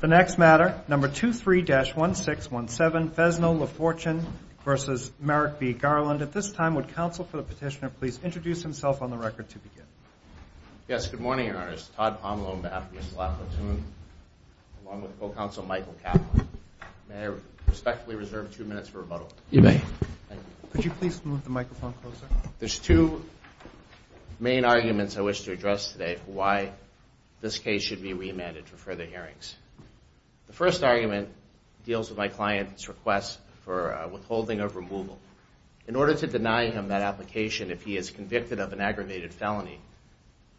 The next matter, number 23-1617, Fesno v. Lafortune v. Merrick v. Garland. At this time, would counsel for the petitioner please introduce himself on the record to begin. Yes, good morning, Your Honor. It's Todd Pomelo on behalf of the Estella Platoon, along with co-counsel Michael Kaplan. May I respectfully reserve two minutes for rebuttal? You may. Thank you. Could you please move the microphone closer? There's two main arguments I wish to address today for why this case should be remanded for further hearings. The first argument deals with my client's request for withholding of removal. In order to deny him that application if he is convicted of an aggravated felony,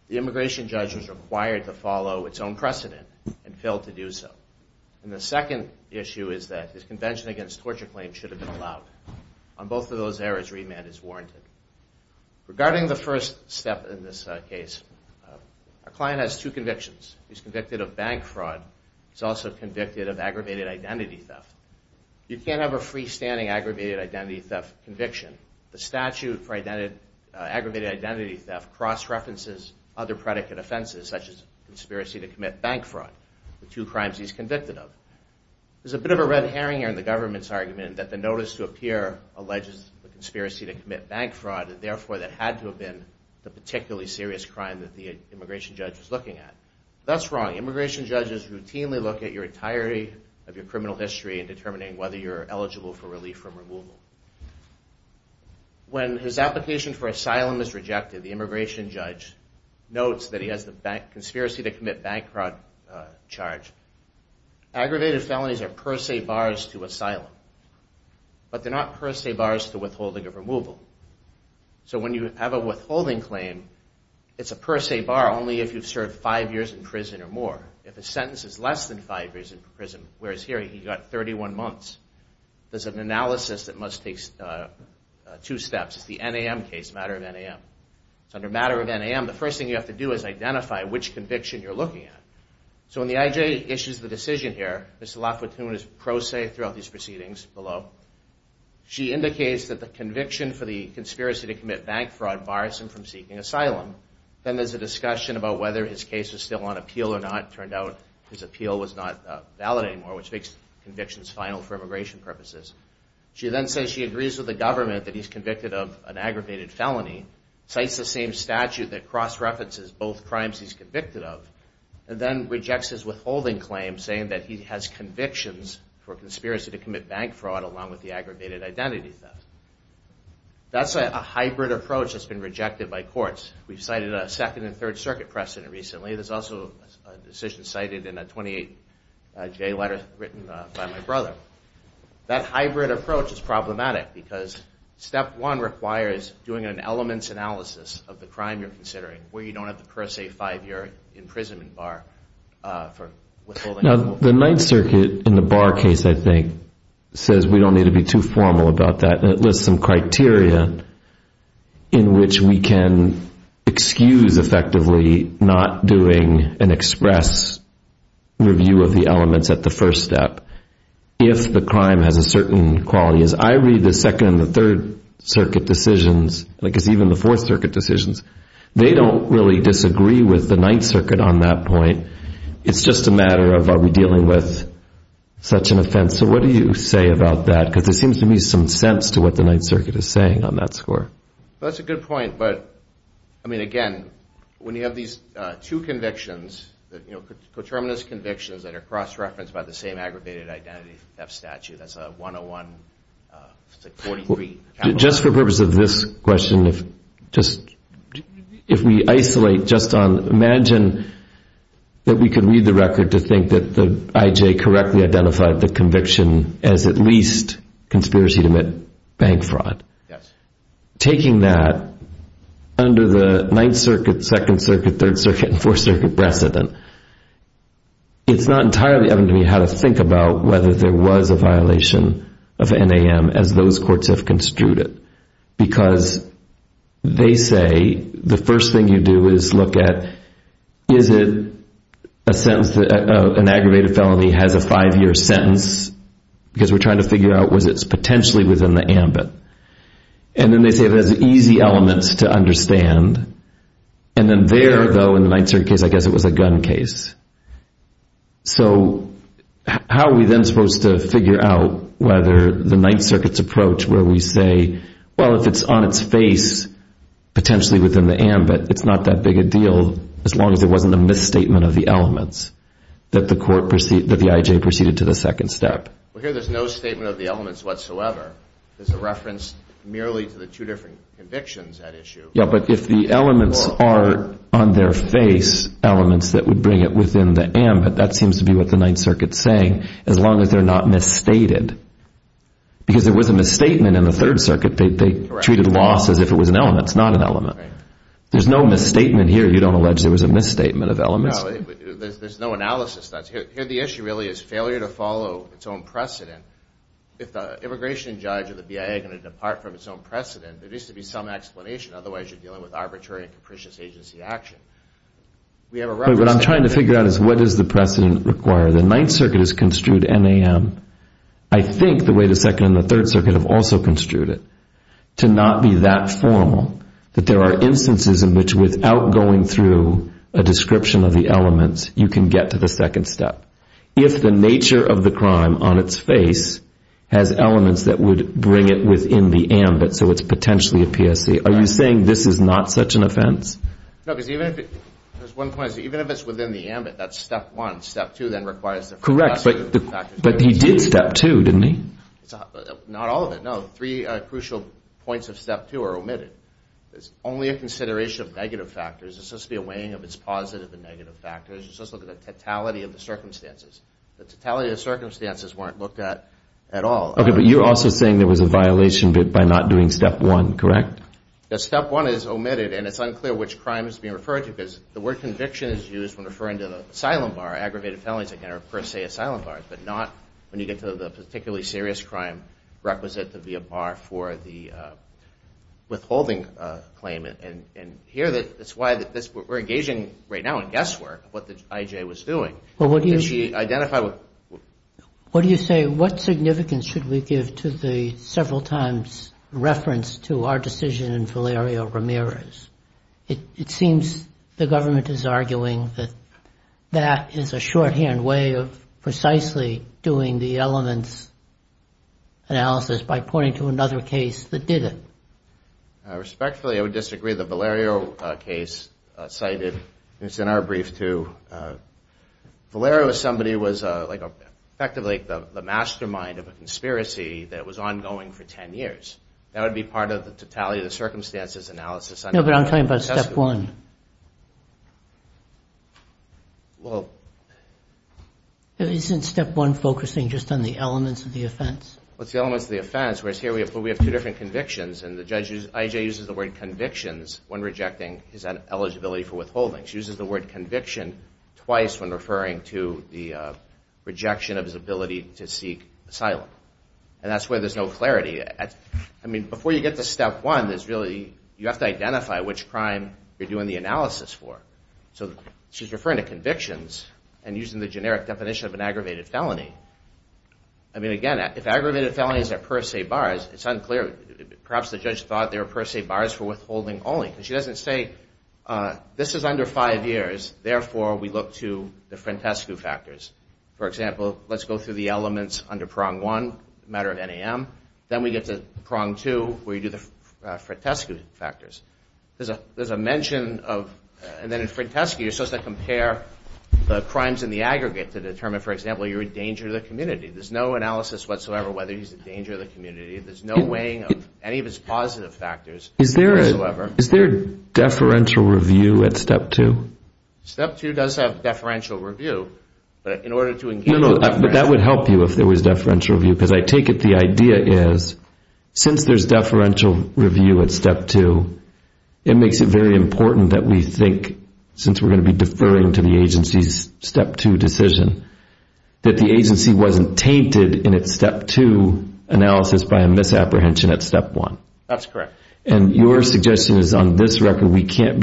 the immigration judge was required to follow its own precedent and failed to do so. And the second issue is that his Regarding the first step in this case, our client has two convictions. He's convicted of bank fraud. He's also convicted of aggravated identity theft. You can't have a freestanding aggravated identity theft conviction. The statute for aggravated identity theft cross-references other predicate offenses, such as conspiracy to commit bank fraud, the two crimes he's convicted of. There's a bit of a red herring in the government's argument that the notice to appear alleges the conspiracy to commit bank fraud and therefore that had to have been the particularly serious crime that the immigration judge was looking at. That's wrong. Immigration judges routinely look at your entirety of your criminal history in determining whether you're eligible for relief from removal. When his application for asylum is rejected, the But they're not per se bars to withholding of removal. So when you have a withholding claim, it's a per se bar only if you've served five years in prison or more. If a sentence is less than five years in prison, whereas here he got 31 months, there's an analysis that must take two steps. It's the NAM case, matter of NAM. So under matter of NAM, the first thing you have to do is identify which conviction you're looking at. So when the IJ issues the decision here, Mr. LaFortune is pro se throughout these proceedings below. She indicates that the conviction for the conspiracy to commit bank fraud bars him from seeking asylum. Then there's a discussion about whether his case is still on appeal or not. It turned out his appeal was not valid anymore, which makes convictions final for immigration purposes. She then says she agrees with the government that he's withholding claims saying that he has convictions for conspiracy to commit bank fraud along with the aggravated identity theft. That's a hybrid approach that's been rejected by courts. We've cited a Second and Third Circuit precedent recently. There's also a decision cited in a 28J letter written by my brother. That hybrid approach is problematic because step one requires doing an elements analysis of the crime you're holding. The Ninth Circuit in the bar case, I think, says we don't need to be too formal about that. It lists some criteria in which we can excuse effectively not doing an express review of the elements at the first step if the crime has a certain quality. As I read the Second and the Third Circuit decisions, like it's even the Fourth Circuit decisions, they don't really disagree with the Ninth Circuit on that point. It's just a matter of are we dealing with such an offense. So what do you say about that? Because there seems to be some sense to what the Ninth Circuit is saying on that score. That's a good point. But, I mean, again, when you have these two convictions, you know, coterminous convictions that are cross-referenced by the same aggravated identity theft statute, that's a 101, it's a 43. Just for the purpose of this question, if we isolate just on, imagine that we could read the record to think that the IJ correctly identified the conviction as at least conspiracy to bank fraud. Taking that under the Ninth Circuit, Second Circuit, Third Circuit, and Fourth Circuit precedent, it's not entirely evident to me how to think about whether there was a violation of NAM as those two convictions. Because they say the first thing you do is look at is it a sentence, an aggravated felony has a five-year sentence because we're trying to figure out was it potentially within the ambit. And then they say it has easy elements to understand. And then there, though, in the Ninth Circuit case, I guess it was a gun case. So how are we then supposed to look at whether there was a misstatement of the elements that the court, that the IJ proceeded to the second step? Well, here there's no statement of the elements whatsoever. There's a reference merely to the two different convictions at issue. Yeah, but if the elements are on their face, elements that would bring it within the ambit, that seems to be what the Ninth Circuit's saying as long as they're not misstated. Because there was a misstatement in the Third Circuit. They treated it as if it was an element. It's not an element. There's no misstatement here. You don't allege there was a misstatement of elements. There's no analysis. Here the issue really is failure to follow its own precedent. If the immigration judge or the BIA are going to depart from its own precedent, there needs to be some explanation. Otherwise you're dealing with arbitrary and capricious agency action. What I'm trying to figure out is what does the precedent require? The Ninth Circuit has also construed it to not be that formal, that there are instances in which without going through a description of the elements, you can get to the second step. If the nature of the crime on its face has elements that would bring it within the ambit, so it's potentially a PSC, are you saying this is not such an offense? No, because even if it's within the ambit, that's step one. Step two then requires... Correct, but he did step two, didn't he? Not all of it, no. Three crucial points of step two are omitted. There's only a consideration of negative factors. It's supposed to be a weighing of its positive and negative factors. It's supposed to look at the totality of the circumstances. The totality of the circumstances weren't looked at at all. Okay, but you're also saying there was a violation by not doing step one, correct? Yes, step one is omitted and it's unclear which crime is being referred to because the word conviction is used when referring to the asylum bar. Aggravated felonies, again, are per se asylum bars, but not when you get to the particularly serious crime requisite to be a bar for the withholding claim. And here, that's why we're engaging right now in guesswork what the IJ was doing. Did she identify... What do you say? What significance should we give to the fact that the government is arguing that that is a shorthand way of precisely doing the elements analysis by pointing to another case that did it? Respectfully, I would disagree. The Valerio case cited, it's in our brief, too. Valerio is somebody who was effectively the mastermind of a conspiracy that was ongoing for 10 years. That would be part of the totality of the circumstances analysis. No, but I'm talking about step one. Well... Isn't step one focusing just on the elements of the offense? Well, it's the elements of the offense, whereas here we have two different convictions and the IJ uses the word convictions when rejecting his eligibility for withholding. She uses the word conviction twice when referring to the rejection of his ability to seek asylum. And that's where there's no clarity. Before you get to step one, you have to identify which crime you're doing the analysis for. So she's referring to convictions and using the generic definition of an aggravated felony. Again, if aggravated felonies are per se bars, it's unclear. Perhaps the judge thought they were per se bars for withholding only. She doesn't say this is under five years, therefore we look to the Frantescu factors. For example, let's go through the elements under prong one, matter of NAM. Then we get to prong two where you do the Frantescu factors. There's a mention of, and then in Frantescu you're supposed to compare the crimes in the aggregate to determine, for example, you're a danger to the community. There's no analysis whatsoever whether he's a danger to the community. There's no weighing of any of his positive factors. Is there a deferential review at step two? Step two does have deferential review. But that would help you if there was deferential review because I take it the idea is since there's deferential review at step two, it makes it very important that we think, since we're going to be deferring to the agency's step two decision, that the agency wasn't tainted in its step two analysis by a misapprehension at step one. That's correct. And your argument is that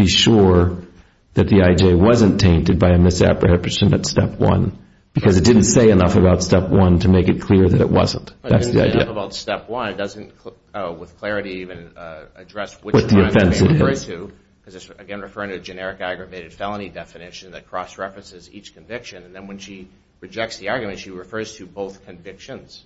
the agency wasn't tainted by a misapprehension at step one because it didn't say enough about step one to make it clear that it wasn't. That's the idea. But it didn't say enough about step one. It doesn't, with clarity even, address which crime to refer to. Because again, referring to a generic aggravated felony definition that cross-references each conviction. And then when she rejects the argument, she refers to both convictions.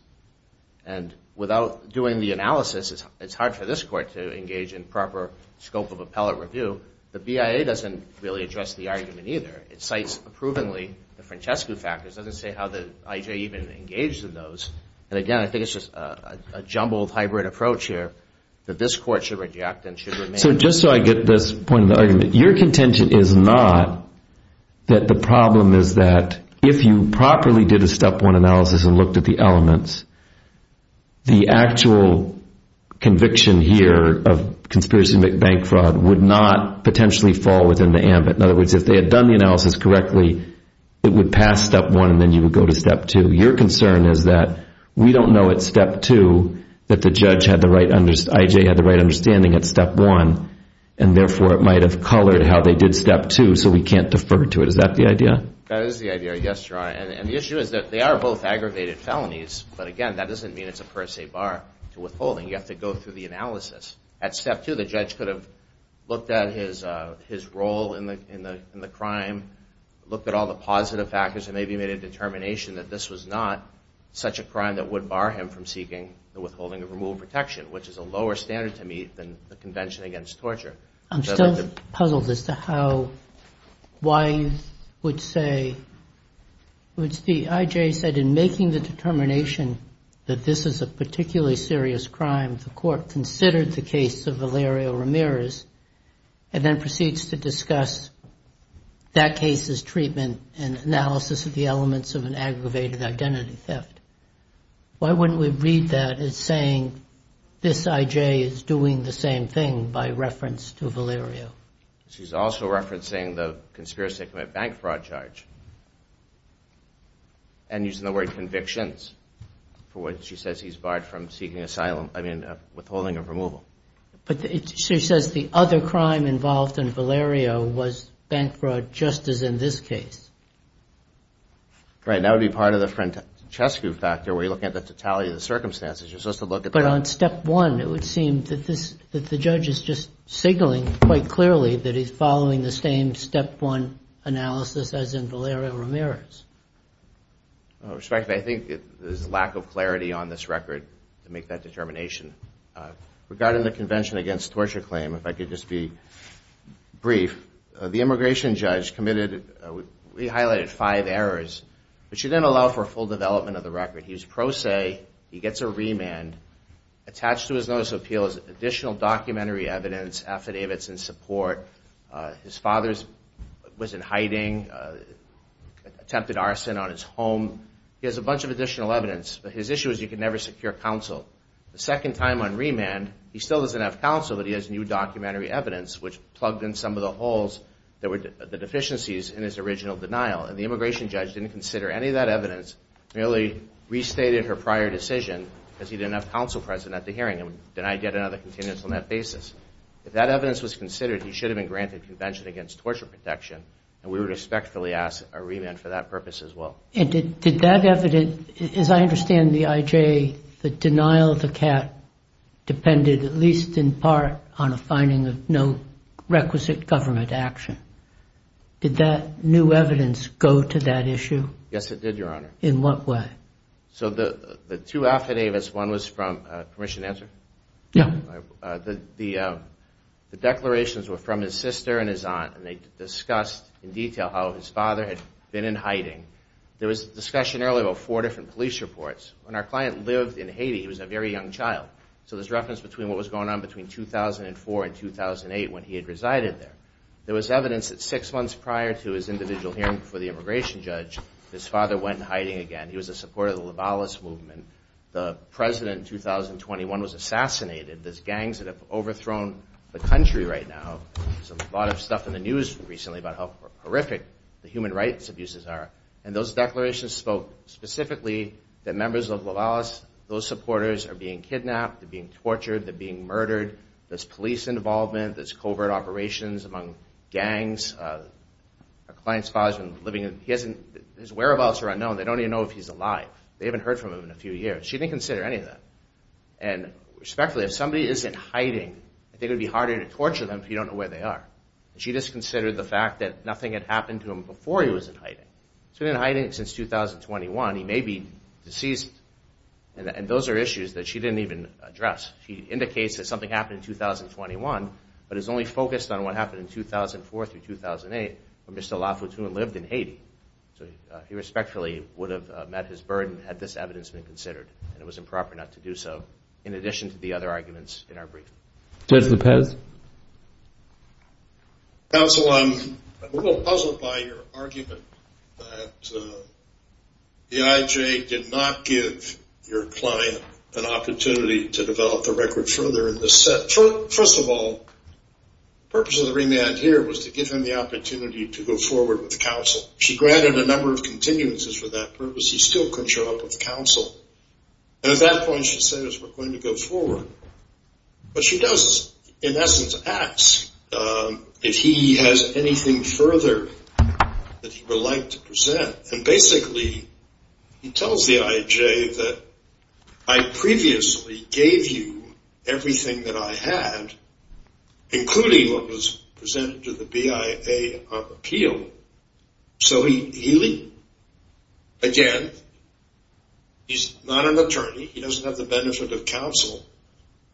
And without doing the analysis, it's hard for this court to engage in proper scope of appellate review. The BIA doesn't really address the argument either. It cites approvingly the Francesco factors. It doesn't say how the I.J. even engaged in those. And again, I think it's just a jumbled hybrid approach here that this court should reject and should remain. So just so I get this point of the argument, your contention is not that the problem is that if you properly did a step one analysis and looked at the elements, the actual conviction here of conspiracy to make bank fraud would not be a step one. It would not potentially fall within the ambit. In other words, if they had done the analysis correctly, it would pass step one and then you would go to step two. Your concern is that we don't know at step two that the judge had the right, I.J. had the right understanding at step one. And therefore, it might have colored how they did step two. So we can't defer to it. Is that the idea? That is the idea. Yes, Your Honor. And the issue is that they are both aggravated felonies. But again, that doesn't mean it's a per se bar to withholding. You have to go through the analysis. At step two, the judge could have looked at his role in the crime, looked at all the positive factors and maybe made a determination that this was not such a crime that would bar him from seeking the withholding of removal protection, which is a lower standard to meet than the Convention Against Torture. I'm still puzzled as to how Wyeth would say, I.J. said in making the determination that this is a particular crime that the court considered the case of Valerio Ramirez and then proceeds to discuss that case's treatment and analysis of the elements of an aggravated identity theft. Why wouldn't we read that as saying this I.J. is doing the same thing by reference to Valerio? She's also referencing the conspiracy to commit bank fraud charge and using the word convictions for what she says he's barred from seeking asylum, I mean, withholding of removal. But she says the other crime involved in Valerio was bank fraud just as in this case. Right. That would be part of the Francesco factor where you're looking at the totality of the circumstances. But on step one, it would seem that the judge is just signaling quite clearly that he's following the same step one analysis as in Valerio Ramirez. Respectfully, I think there's a lack of clarity on this record to make that determination. Regarding the Convention Against Torture claim, if I could just be brief, the immigration judge highlighted five errors, which didn't allow for full development of the record. He was pro se. He gets a remand. Attached to his notice of appeal is additional documentary evidence, affidavits in which he attempted arson on his home. He has a bunch of additional evidence, but his issue is you can never secure counsel. The second time on remand, he still doesn't have counsel, but he has new documentary evidence, which plugged in some of the holes, the deficiencies in his original denial. And the immigration judge didn't consider any of that evidence, merely restated her prior decision, because he didn't have counsel present at the hearing and denied yet another contingency on that basis. If that evidence was considered, he should have been granted Convention Against Torture protection, and we would respectfully ask a remand for that purpose as well. And did that evidence, as I understand the IJ, the denial of the CAT depended at least in part on a finding of no requisite government action. Did that new evidence go to that issue? Yes, it did, Your Honor. In what way? So the two affidavits, one was from, permission to answer? Yeah. The declarations were from his sister and his aunt, and they discussed in detail how his father had been in hiding. There was discussion earlier about four different police reports. When our client lived in Haiti, he was a very young child. So there's reference between what was going on between 2004 and 2008 when he had resided there. There was evidence that six months prior to his individual hearing for the immigration judge, his father went hiding again. He was a supporter of the Lovalis movement. The president in 2021 was assassinated. There's gangs that have overthrown the country right now. There's a lot of stuff in the news recently about how horrific the human rights abuses are. And those declarations spoke specifically that members of Lovalis, those supporters, are being kidnapped, they're being tortured, they're being executed, they're being killed. And she didn't consider any of that. And respectfully, if somebody is in hiding, I think it would be harder to torture them if you don't know where they are. And she disconsidered the fact that nothing had happened to him before he was in hiding. He's been in hiding since 2021. He may be deceased. And those are issues that she didn't even address. She indicates that something happened in 2021, but is only focused on what happened in 2004 through 2008 when Mr. Lafoutine lived in Haiti. So he respectfully would have met his burden had this evidence been considered. And it was improper not to do so, in addition to the other arguments in our briefing. Judge Lopez? Counsel, I'm a little puzzled by your argument that the IJ did not give your client an opportunity to develop the record further in this set. First of all, the purpose of the remand here was to give him the opportunity to go forward with counsel. She granted a number of continuances for that purpose. He still couldn't show up with counsel. And at that point, she says, we're going to go forward. But she does, in essence, ask if he has anything further that he would like to present. And basically, he tells the IJ that I previously gave you everything that I had, including what was presented to the BIA on appeal. So he, again, he's not an attorney. He doesn't have the benefit of counsel.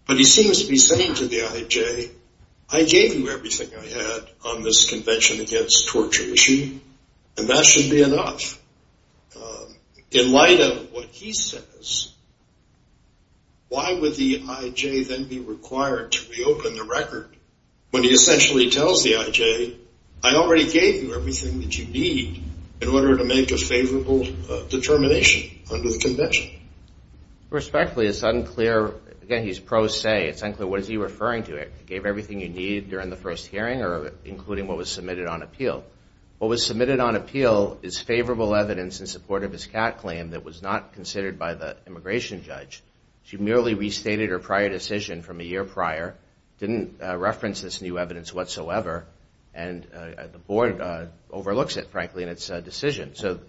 But he seems to be saying to the IJ, I gave you everything I had on this convention against torture issue, and that should be enough. In light of what he says, why would the IJ then be required to reopen the record when he essentially tells the IJ, I already gave you everything that you need in order to make a favorable determination under the convention? Respectfully, it's unclear. Again, he's pro se. It's unclear what he's referring to. I gave everything you need during the first hearing, including what was submitted on appeal. What was submitted on appeal is favorable evidence in support of his CAT claim that was not considered by the immigration judge. She merely restated her prior decision from a year prior, didn't reference this new evidence whatsoever, and the board overlooks it, frankly, in its decision. So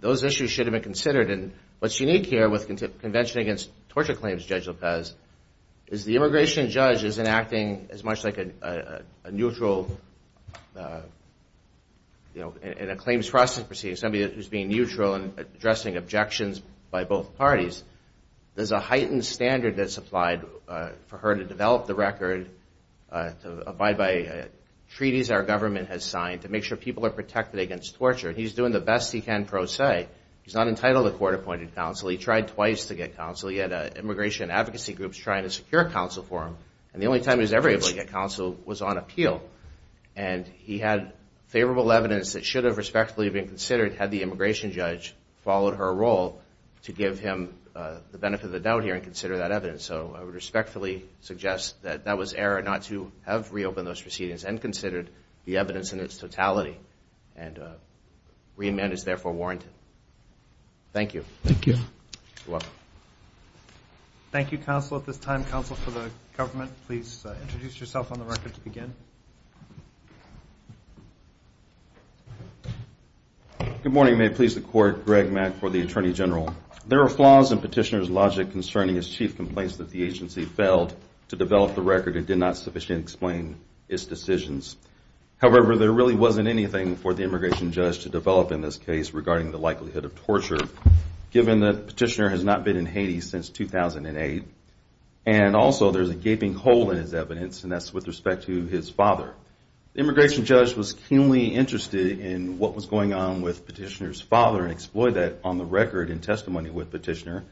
those issues should have been considered. And what's unique here with Convention Against Torture Claims, Judge Lopez, is the immigration judge isn't acting as much like a neutral, you know, in a claims process proceeding, somebody who's being neutral and addressing objections by both parties. There's a heightened standard that's applied for her to develop the record, to abide by treaties our government has signed, to make sure people are protected against torture. And he's doing the best he can pro se. He's not entitled to court-appointed counsel. He tried twice to get counsel. He had immigration advocacy groups trying to secure counsel for him, and the only time he was ever able to get counsel was on appeal. And he had favorable evidence that should have respectfully been considered had the immigration judge followed her role to give him the benefit of the doubt here and consider that evidence. So I would respectfully suggest that that was error not to have reopened those proceedings and considered the evidence in its totality. And reamend is therefore warranted. Thank you. Thank you, counsel. At this time, counsel for the government, please introduce yourself on the record to begin. Good morning. May it please the court. Greg Mack for the Attorney General. There are flaws in petitioner's logic concerning his chief complaints that the agency failed to develop the record. It did not sufficiently explain its decisions. However, there really wasn't anything for the immigration judge to develop in this case regarding the likelihood of torture, given that petitioner has not been in Haiti since 2008. And also, there's a gaping hole in his evidence, and that's with respect to his father. The immigration judge was keenly interested in what was going on with petitioner's father and exploited that on the record in testimony with petitioner.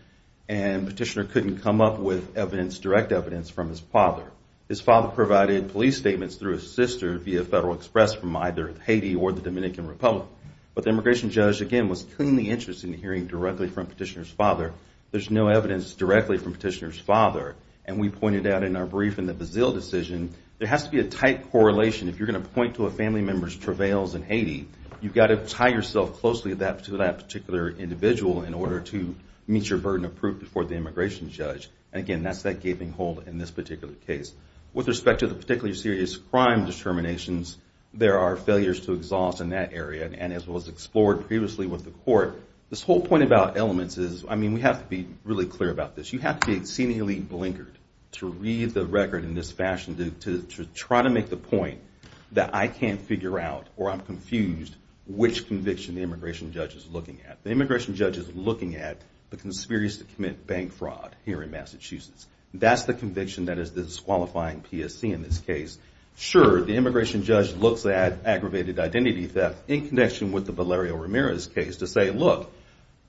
And petitioner couldn't come up with direct evidence from his father. His father provided police statements through his sister via Federal Express from either Haiti or the Dominican Republic. But the immigration judge, again, was keenly interested in hearing directly from petitioner's father. There's no evidence directly from petitioner's father. And we pointed out in our brief in the Brazil decision, there has to be a tight correlation. If you're going to point to a family member's travails in Haiti, you've got to tie yourself closely to that particular individual in order to meet your burden of proof before the immigration judge. And again, that's that gaping hole in this particular case. With respect to the particularly serious crime determinations, there are failures to exhaust in that area. And as was explored previously with the court, this whole point about elements is, I mean, we have to be really clear about this. You have to be exceedingly blinkered to read the record in this fashion to try to make the point that I can't figure out or I'm confused which conviction the immigration judge is looking at. The immigration judge is looking at the conspiracy to commit bank fraud here in Massachusetts. That's the conviction that is disqualifying PSC in this case. Sure, the immigration judge looks at aggravated identity theft in connection with the Valerio Ramirez case to say, look,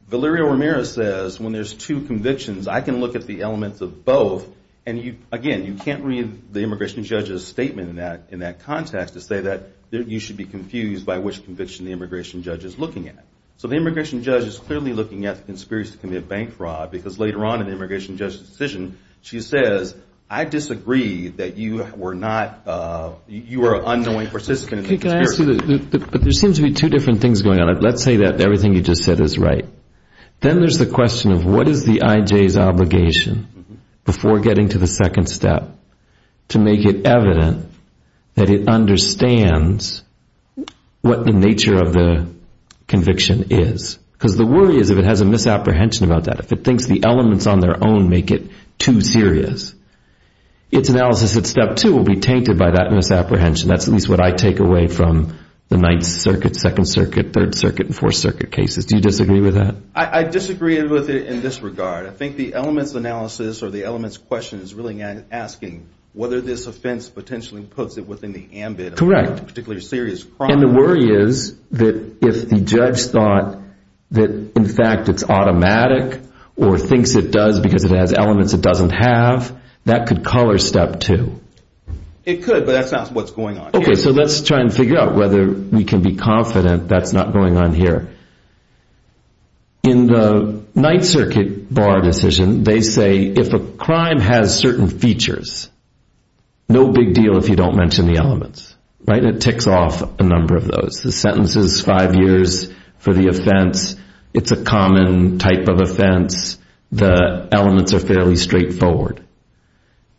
Valerio Ramirez says, when there's two convictions, I can look at the elements of both. And again, you can't read the immigration judge's statement in that context to say that you should be confused by which conviction the immigration judge is looking at. So the immigration judge is clearly looking at the conspiracy to commit bank fraud because later on in the immigration judge's decision, she says, I disagree that you were not, you were an unknowing participant in the conspiracy. But there seems to be two different things going on. Let's say that everything you just said is right. Then there's the question of what is the IJ's obligation before getting to the second step to make it evident that it understands what the nature of the conviction is. Because the worry is if it has a misapprehension about that, if it thinks the elements on their own make it too serious, its analysis at step two will be tainted by that misapprehension. That's at least what I take away from the Ninth Circuit, Second Circuit, Third Circuit and Fourth Circuit cases. Do you disagree with that? I disagree with it in this regard. I think the elements analysis or the elements question is really asking whether this offense potentially puts it within the ambit of a particularly serious crime. And the worry is that if the judge thought that in fact it's automatic or thinks it does because it has elements it doesn't have, that could color step two. It could, but that's not what's going on here. Okay, so let's try and figure out whether we can be confident that's not going on here. In the Ninth Circuit bar decision, they say if a crime has certain features, no big deal if you don't mention the elements. It ticks off a number of those. The sentence is five years for the offense. It's a common type of offense. The elements are fairly straightforward.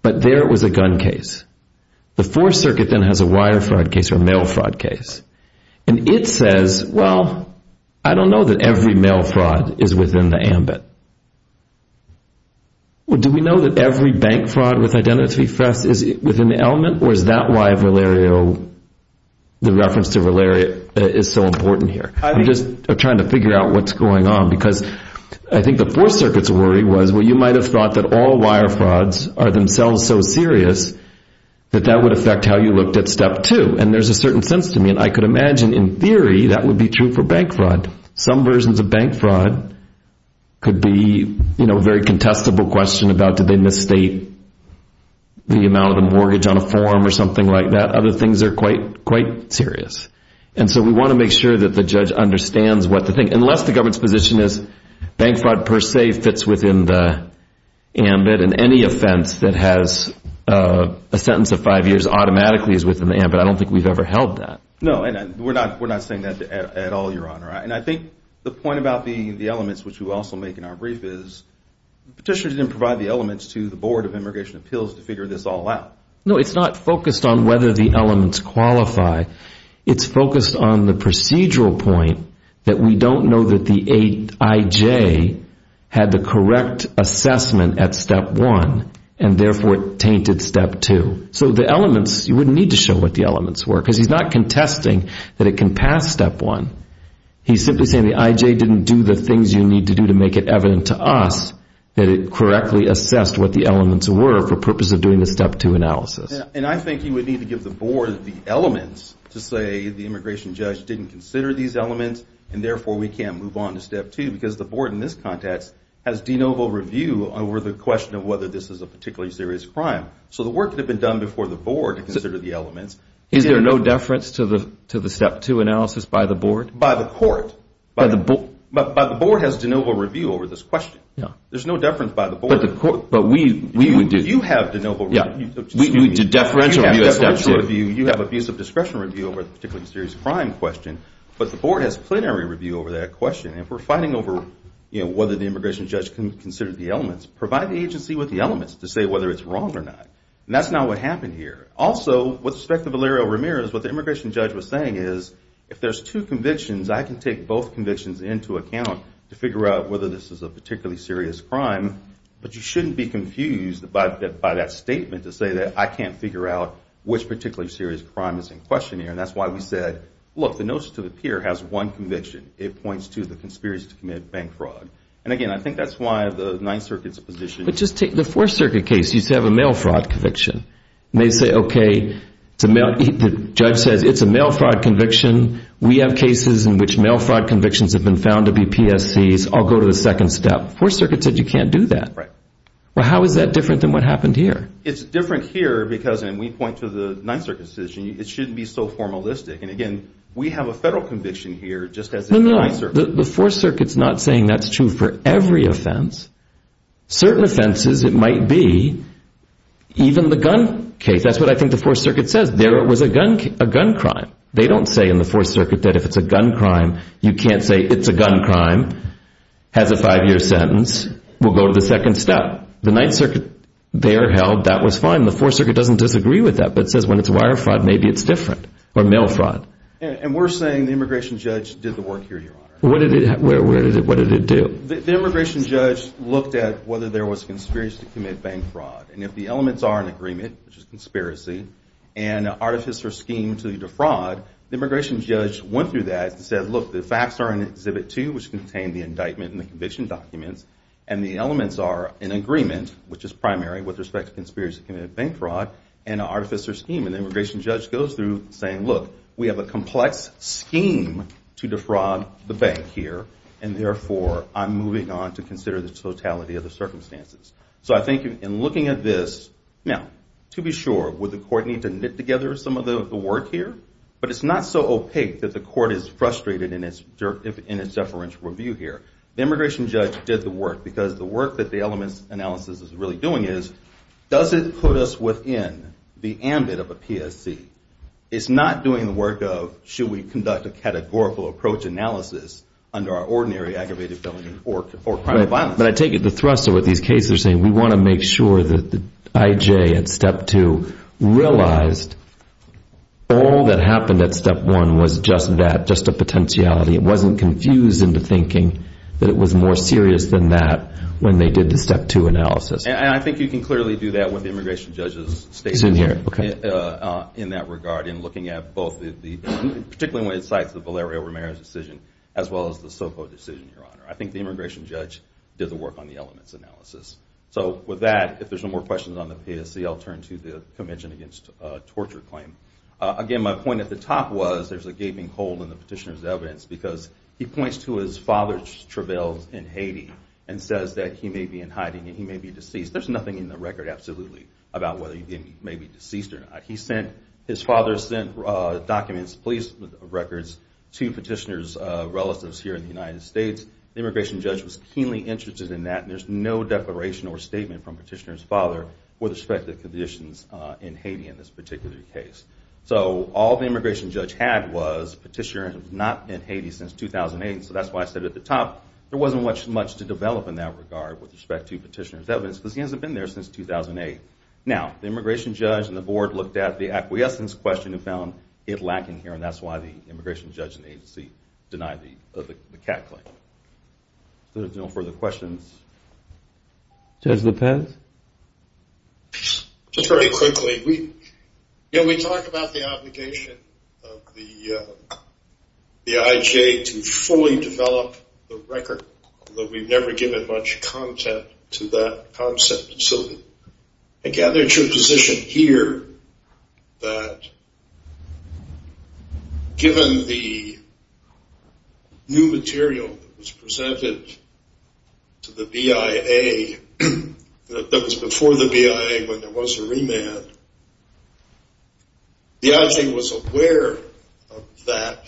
But there it was a gun case. The Fourth Circuit then has a wire fraud case or mail fraud case. And it says, well, I don't know that every mail fraud is within the ambit. Do we know that every bank fraud with identity theft is within the element or is that why Valerio, the reference to Valerio is so important here? I'm just trying to figure out what's going on because I think the Fourth Circuit's worry was, well, you might have thought that all wire frauds are themselves so serious that that would affect how you looked at step two. And there's a certain sense to me. And I could imagine in theory that would be true for bank fraud. Some versions of bank fraud could be a very contestable question about did they misstate the amount of a mortgage on a form or something like that. Other things are quite serious. And so we want to make sure that the judge understands what the thing unless the government's position is bank fraud per se fits within the ambit. And any offense that has a sentence of five years automatically is within the ambit. I don't think we've ever held that. No, we're not. We're not saying that at all, Your Honor. And I think the point about the elements, which we also make in our brief, is petitioners didn't provide the elements to the Board of Immigration Appeals to figure this all out. No, it's not focused on whether the elements qualify. It's focused on the procedural point that we don't know that the IJ had the correct assessment at step one and therefore it tainted step two. So the elements, you wouldn't need to show what the elements were because he's not contesting that it can pass step one. He's simply saying the IJ didn't do the things you need to do to make it evident to us that it correctly assessed what the elements were for purpose of doing the step two analysis. And I think you would need to give the Board the elements to say the immigration judge didn't consider these elements and therefore we can't move on to step two. Because the Board in this context has de novo review over the question of whether this is a particularly serious crime. So the work that had been done before the Board to consider the elements. Is there no deference to the step two analysis by the Board? By the Court. By the Board has de novo review over this question. There's no deference by the Board. You have de novo review. You have abuse of discretion review over the particularly serious crime question. But the Board has plenary review over that question. And if we're fighting over whether the immigration judge considered the elements, provide the agency with the elements to say whether it's wrong or not. And that's not what happened here. Also, with respect to Valerio Ramirez, what the immigration judge was saying is if there's two convictions, I can take both convictions into account to figure out whether this is a particularly serious crime. But you shouldn't be confused by that statement to say that I can't figure out which particularly serious crime is in question here. And that's why we said, look, the notion to appear has one conviction. It points to the conspiracy to commit bank fraud. And again, I think that's why the Ninth Circuit's position. But just take the Fourth Circuit case. You have a mail fraud conviction. And they say, OK, the judge says it's a mail fraud conviction. We have cases in which mail fraud convictions have been found to be PSCs. I'll go to the second step. The Fourth Circuit said you can't do that. Well, how is that different than what happened here? It's different here because, and we point to the Ninth Circuit's position, it shouldn't be so formalistic. And again, we have a federal conviction here just as the Ninth Circuit. The Fourth Circuit's not saying that's true for every offense. Certain offenses, it might be even the gun case. That's what I think the Fourth Circuit says. There was a gun crime. They don't say in the Fourth Circuit that if it's a gun crime, you can't say it's a gun crime, has a five-year sentence. We'll go to the second step. The Ninth Circuit there held that was fine. The Fourth Circuit doesn't disagree with that, but says when it's wire fraud, maybe it's different, or mail fraud. And we're saying the immigration judge did the work here, Your Honor. What did it do? The immigration judge looked at whether there was conspiracy to commit bank fraud. And if the elements are in agreement, which is conspiracy, and artifice or scheme to defraud, the immigration judge went through that and said, look, the facts are in Exhibit 2, which contained the indictment and the conviction documents. And the elements are in agreement, which is primary with respect to conspiracy to commit bank fraud and an artifice or scheme. And the immigration judge goes through saying, look, we have a complex scheme to defraud the bank here. And therefore, I'm moving on to consider the totality of the circumstances. So I think in looking at this, now, to be sure, would the court need to knit together some of the work here? But it's not so opaque that the court is frustrated in its deferential review here. The immigration judge did the work, because the work that the elements analysis is really doing is, does it put us within the ambit of a PSC? It's not doing the work of, should we conduct a categorical approach analysis under our ordinary aggravated felony or crime of violence. But I take it the thrust of what these cases are saying, we want to make sure that the IJ at Step 2 realized all that happened at Step 1 was just that, just a potentiality. It wasn't confused into thinking that it was more serious than that when they did the Step 2 analysis. And I think you can clearly do that with the immigration judge's statement in that regard in looking at both the, particularly when it cites the Valerio Ramirez decision, as well as the Soko decision, Your Honor. I think the immigration judge did the work on the elements analysis. So with that, if there's no more questions on the PSC, I'll turn to the Convention Against Torture claim. Again, my point at the top was, there's a gaping hole in the petitioner's evidence, because he points to his father's travails in Haiti, and says that he may be in hiding, and he may be deceased. There's nothing in the record, absolutely, about whether he may be deceased or not. His father sent documents, police records, to petitioner's relatives here in the United States. The immigration judge was keenly interested in that, and there's no declaration or statement from petitioner's father with respect to the conditions in Haiti in this particular case. So all the immigration judge had was, petitioner has not been in Haiti since 2008, so that's why I said at the top, there wasn't much to develop in that regard with respect to petitioner's evidence, because he hasn't been there since 2008. Now, the immigration judge and the board looked at the acquiescence question and found it lacking here, and that's why the immigration judge and the immigration agency denied the CAT claim. So if there's no further questions... Just very quickly, we talked about the obligation of the IJ to fully develop the record, but we've never given much content to that concept. So I gather it's your position here that, given the new material that was presented to the BIA, that was before the BIA when there was a remand, the IJ was aware of that,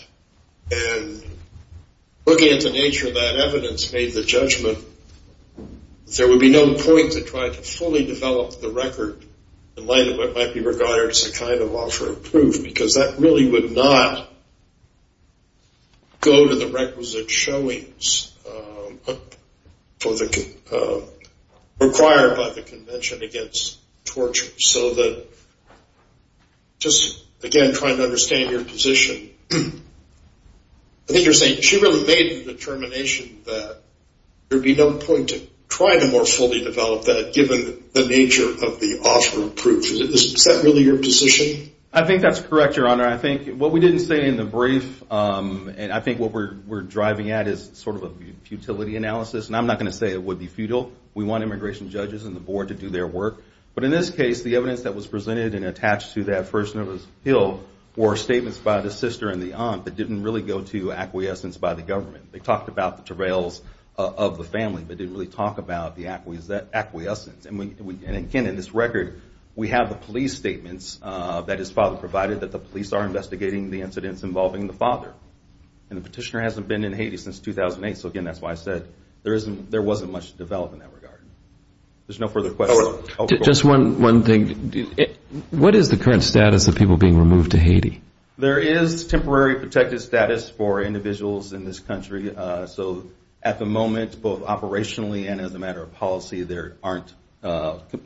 and looking at the nature of that evidence made the judgment there would be no point to try to fully develop the record in light of what might be regarded as a kind of offer of proof, because that really would not go to the requisite showings required by the Convention against Torture. So just, again, trying to understand your position, I think you're saying she really made the determination that there would be no point to try to more fully develop that, given the nature of the offer of proof. Is that really your position? I think that's correct, Your Honor. I think what we didn't say in the brief, and I think what we're driving at is sort of a futility analysis, and I'm not going to say it would be futile. We want immigration judges and the board to do their work. But in this case, the evidence that was presented and attached to that first notice appeal were statements by the sister and the aunt that didn't really go to acquiescence by the government. They talked about the travails of the family, but didn't really talk about the acquiescence. And again, in this record, we have the police statements that his father provided, that the police are investigating the incidents involving the father. And the petitioner hasn't been in Haiti since 2008, so again, that's why I said there wasn't much to develop in that regard. There's no further questions. What is the current status of people being removed to Haiti? There is temporary protected status for individuals in this country. So at the moment, both operationally and as a matter of policy, there aren't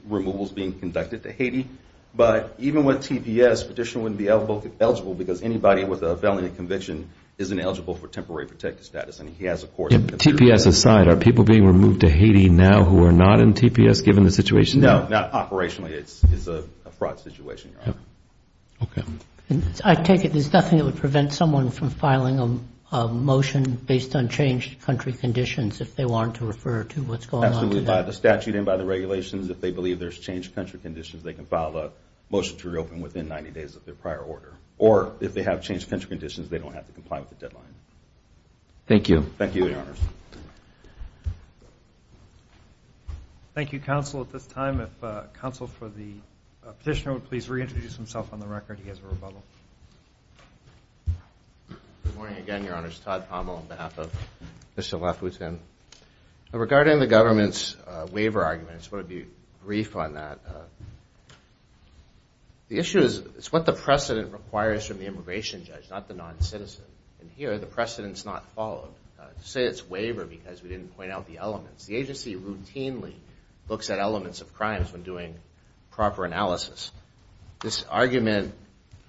removals being conducted to Haiti. But even with TPS, the petitioner wouldn't be eligible because anybody with a felony conviction isn't eligible for temporary protected status. TPS aside, are people being removed to Haiti now who are not in TPS given the situation? No, not operationally. It's a fraud situation, Your Honor. I take it there's nothing that would prevent someone from filing a motion based on changed country conditions if they want to refer to what's going on today? Absolutely. By the statute and by the regulations, if they believe there's changed country conditions, they can file a motion to reopen within 90 days of their prior order. Or if they have changed country conditions, they don't have to comply with the deadline. Thank you. Thank you, Your Honors. Thank you, Counsel. At this time, if Counsel for the petitioner would please reintroduce himself on the record. He has a rebuttal. Good morning again, Your Honors. Todd Pommel on behalf of Mr. Lafoutine. Regarding the government's waiver arguments, I want to be brief on that. The issue is what the precedent requires from the immigration judge, not the non-citizen. And here, the precedent's not followed. To say it's waiver because we didn't point out the elements. The agency routinely looks at elements of crimes when doing proper analysis. This argument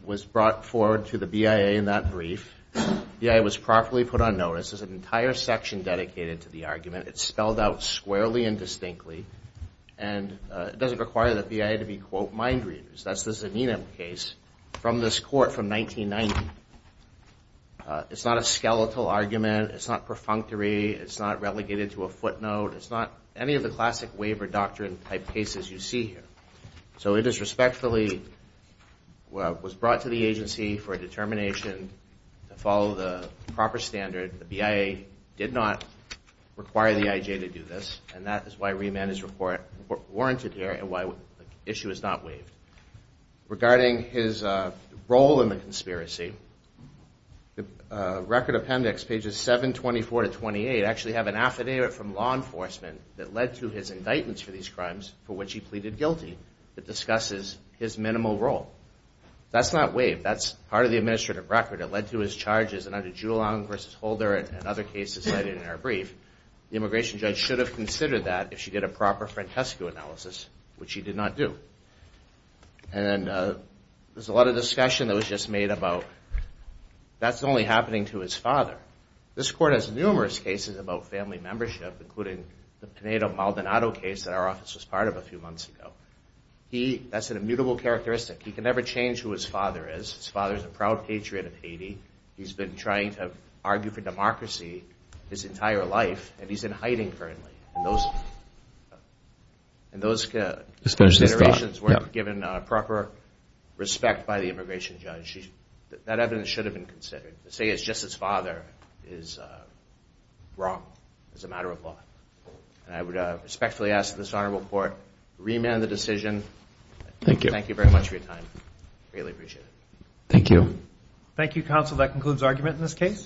was brought forward to the BIA in that brief. The BIA was properly put on notice. There's an entire section dedicated to the argument. It's spelled out squarely and distinctly. And it doesn't require the BIA to be, quote, mind readers. That's the Zanina case from this court from 1990. It's not a skeletal argument. It's not perfunctory. It's not relegated to a footnote. It's not any of the classic waiver doctrine type cases you see here. So it is respectfully was brought to the agency for a determination to follow the proper standard. The BIA did not require the IJ to do this, and that is why remand is warranted here and why the issue is not waived. Regarding his role in the conspiracy, the record appendix, pages 724 to 28, actually have an affidavit from law enforcement that led to his indictments for these crimes for which he pleaded guilty that discusses his minimal role. That's not waived. That's part of the administrative record. It led to his charges. And under Joulin v. Holder and other cases cited in our brief, the immigration judge should have considered that if she did a proper Francesco analysis, which she did not do. And there's a lot of discussion that was just made about that's only happening to his father. This court has numerous cases about family membership, including the Pineda-Maldonado case that our office was part of a few months ago. That's an immutable characteristic. He can never change who his father is. His father is a proud patriot of Haiti. He's been trying to argue for democracy his entire life, and he's in hiding currently. And those considerations weren't given proper respect by the immigration judge. That evidence should have been considered. To say it's just his father is wrong. It's a matter of law. And I would respectfully ask this honorable court to remand the decision. Thank you very much for your time. I greatly appreciate it.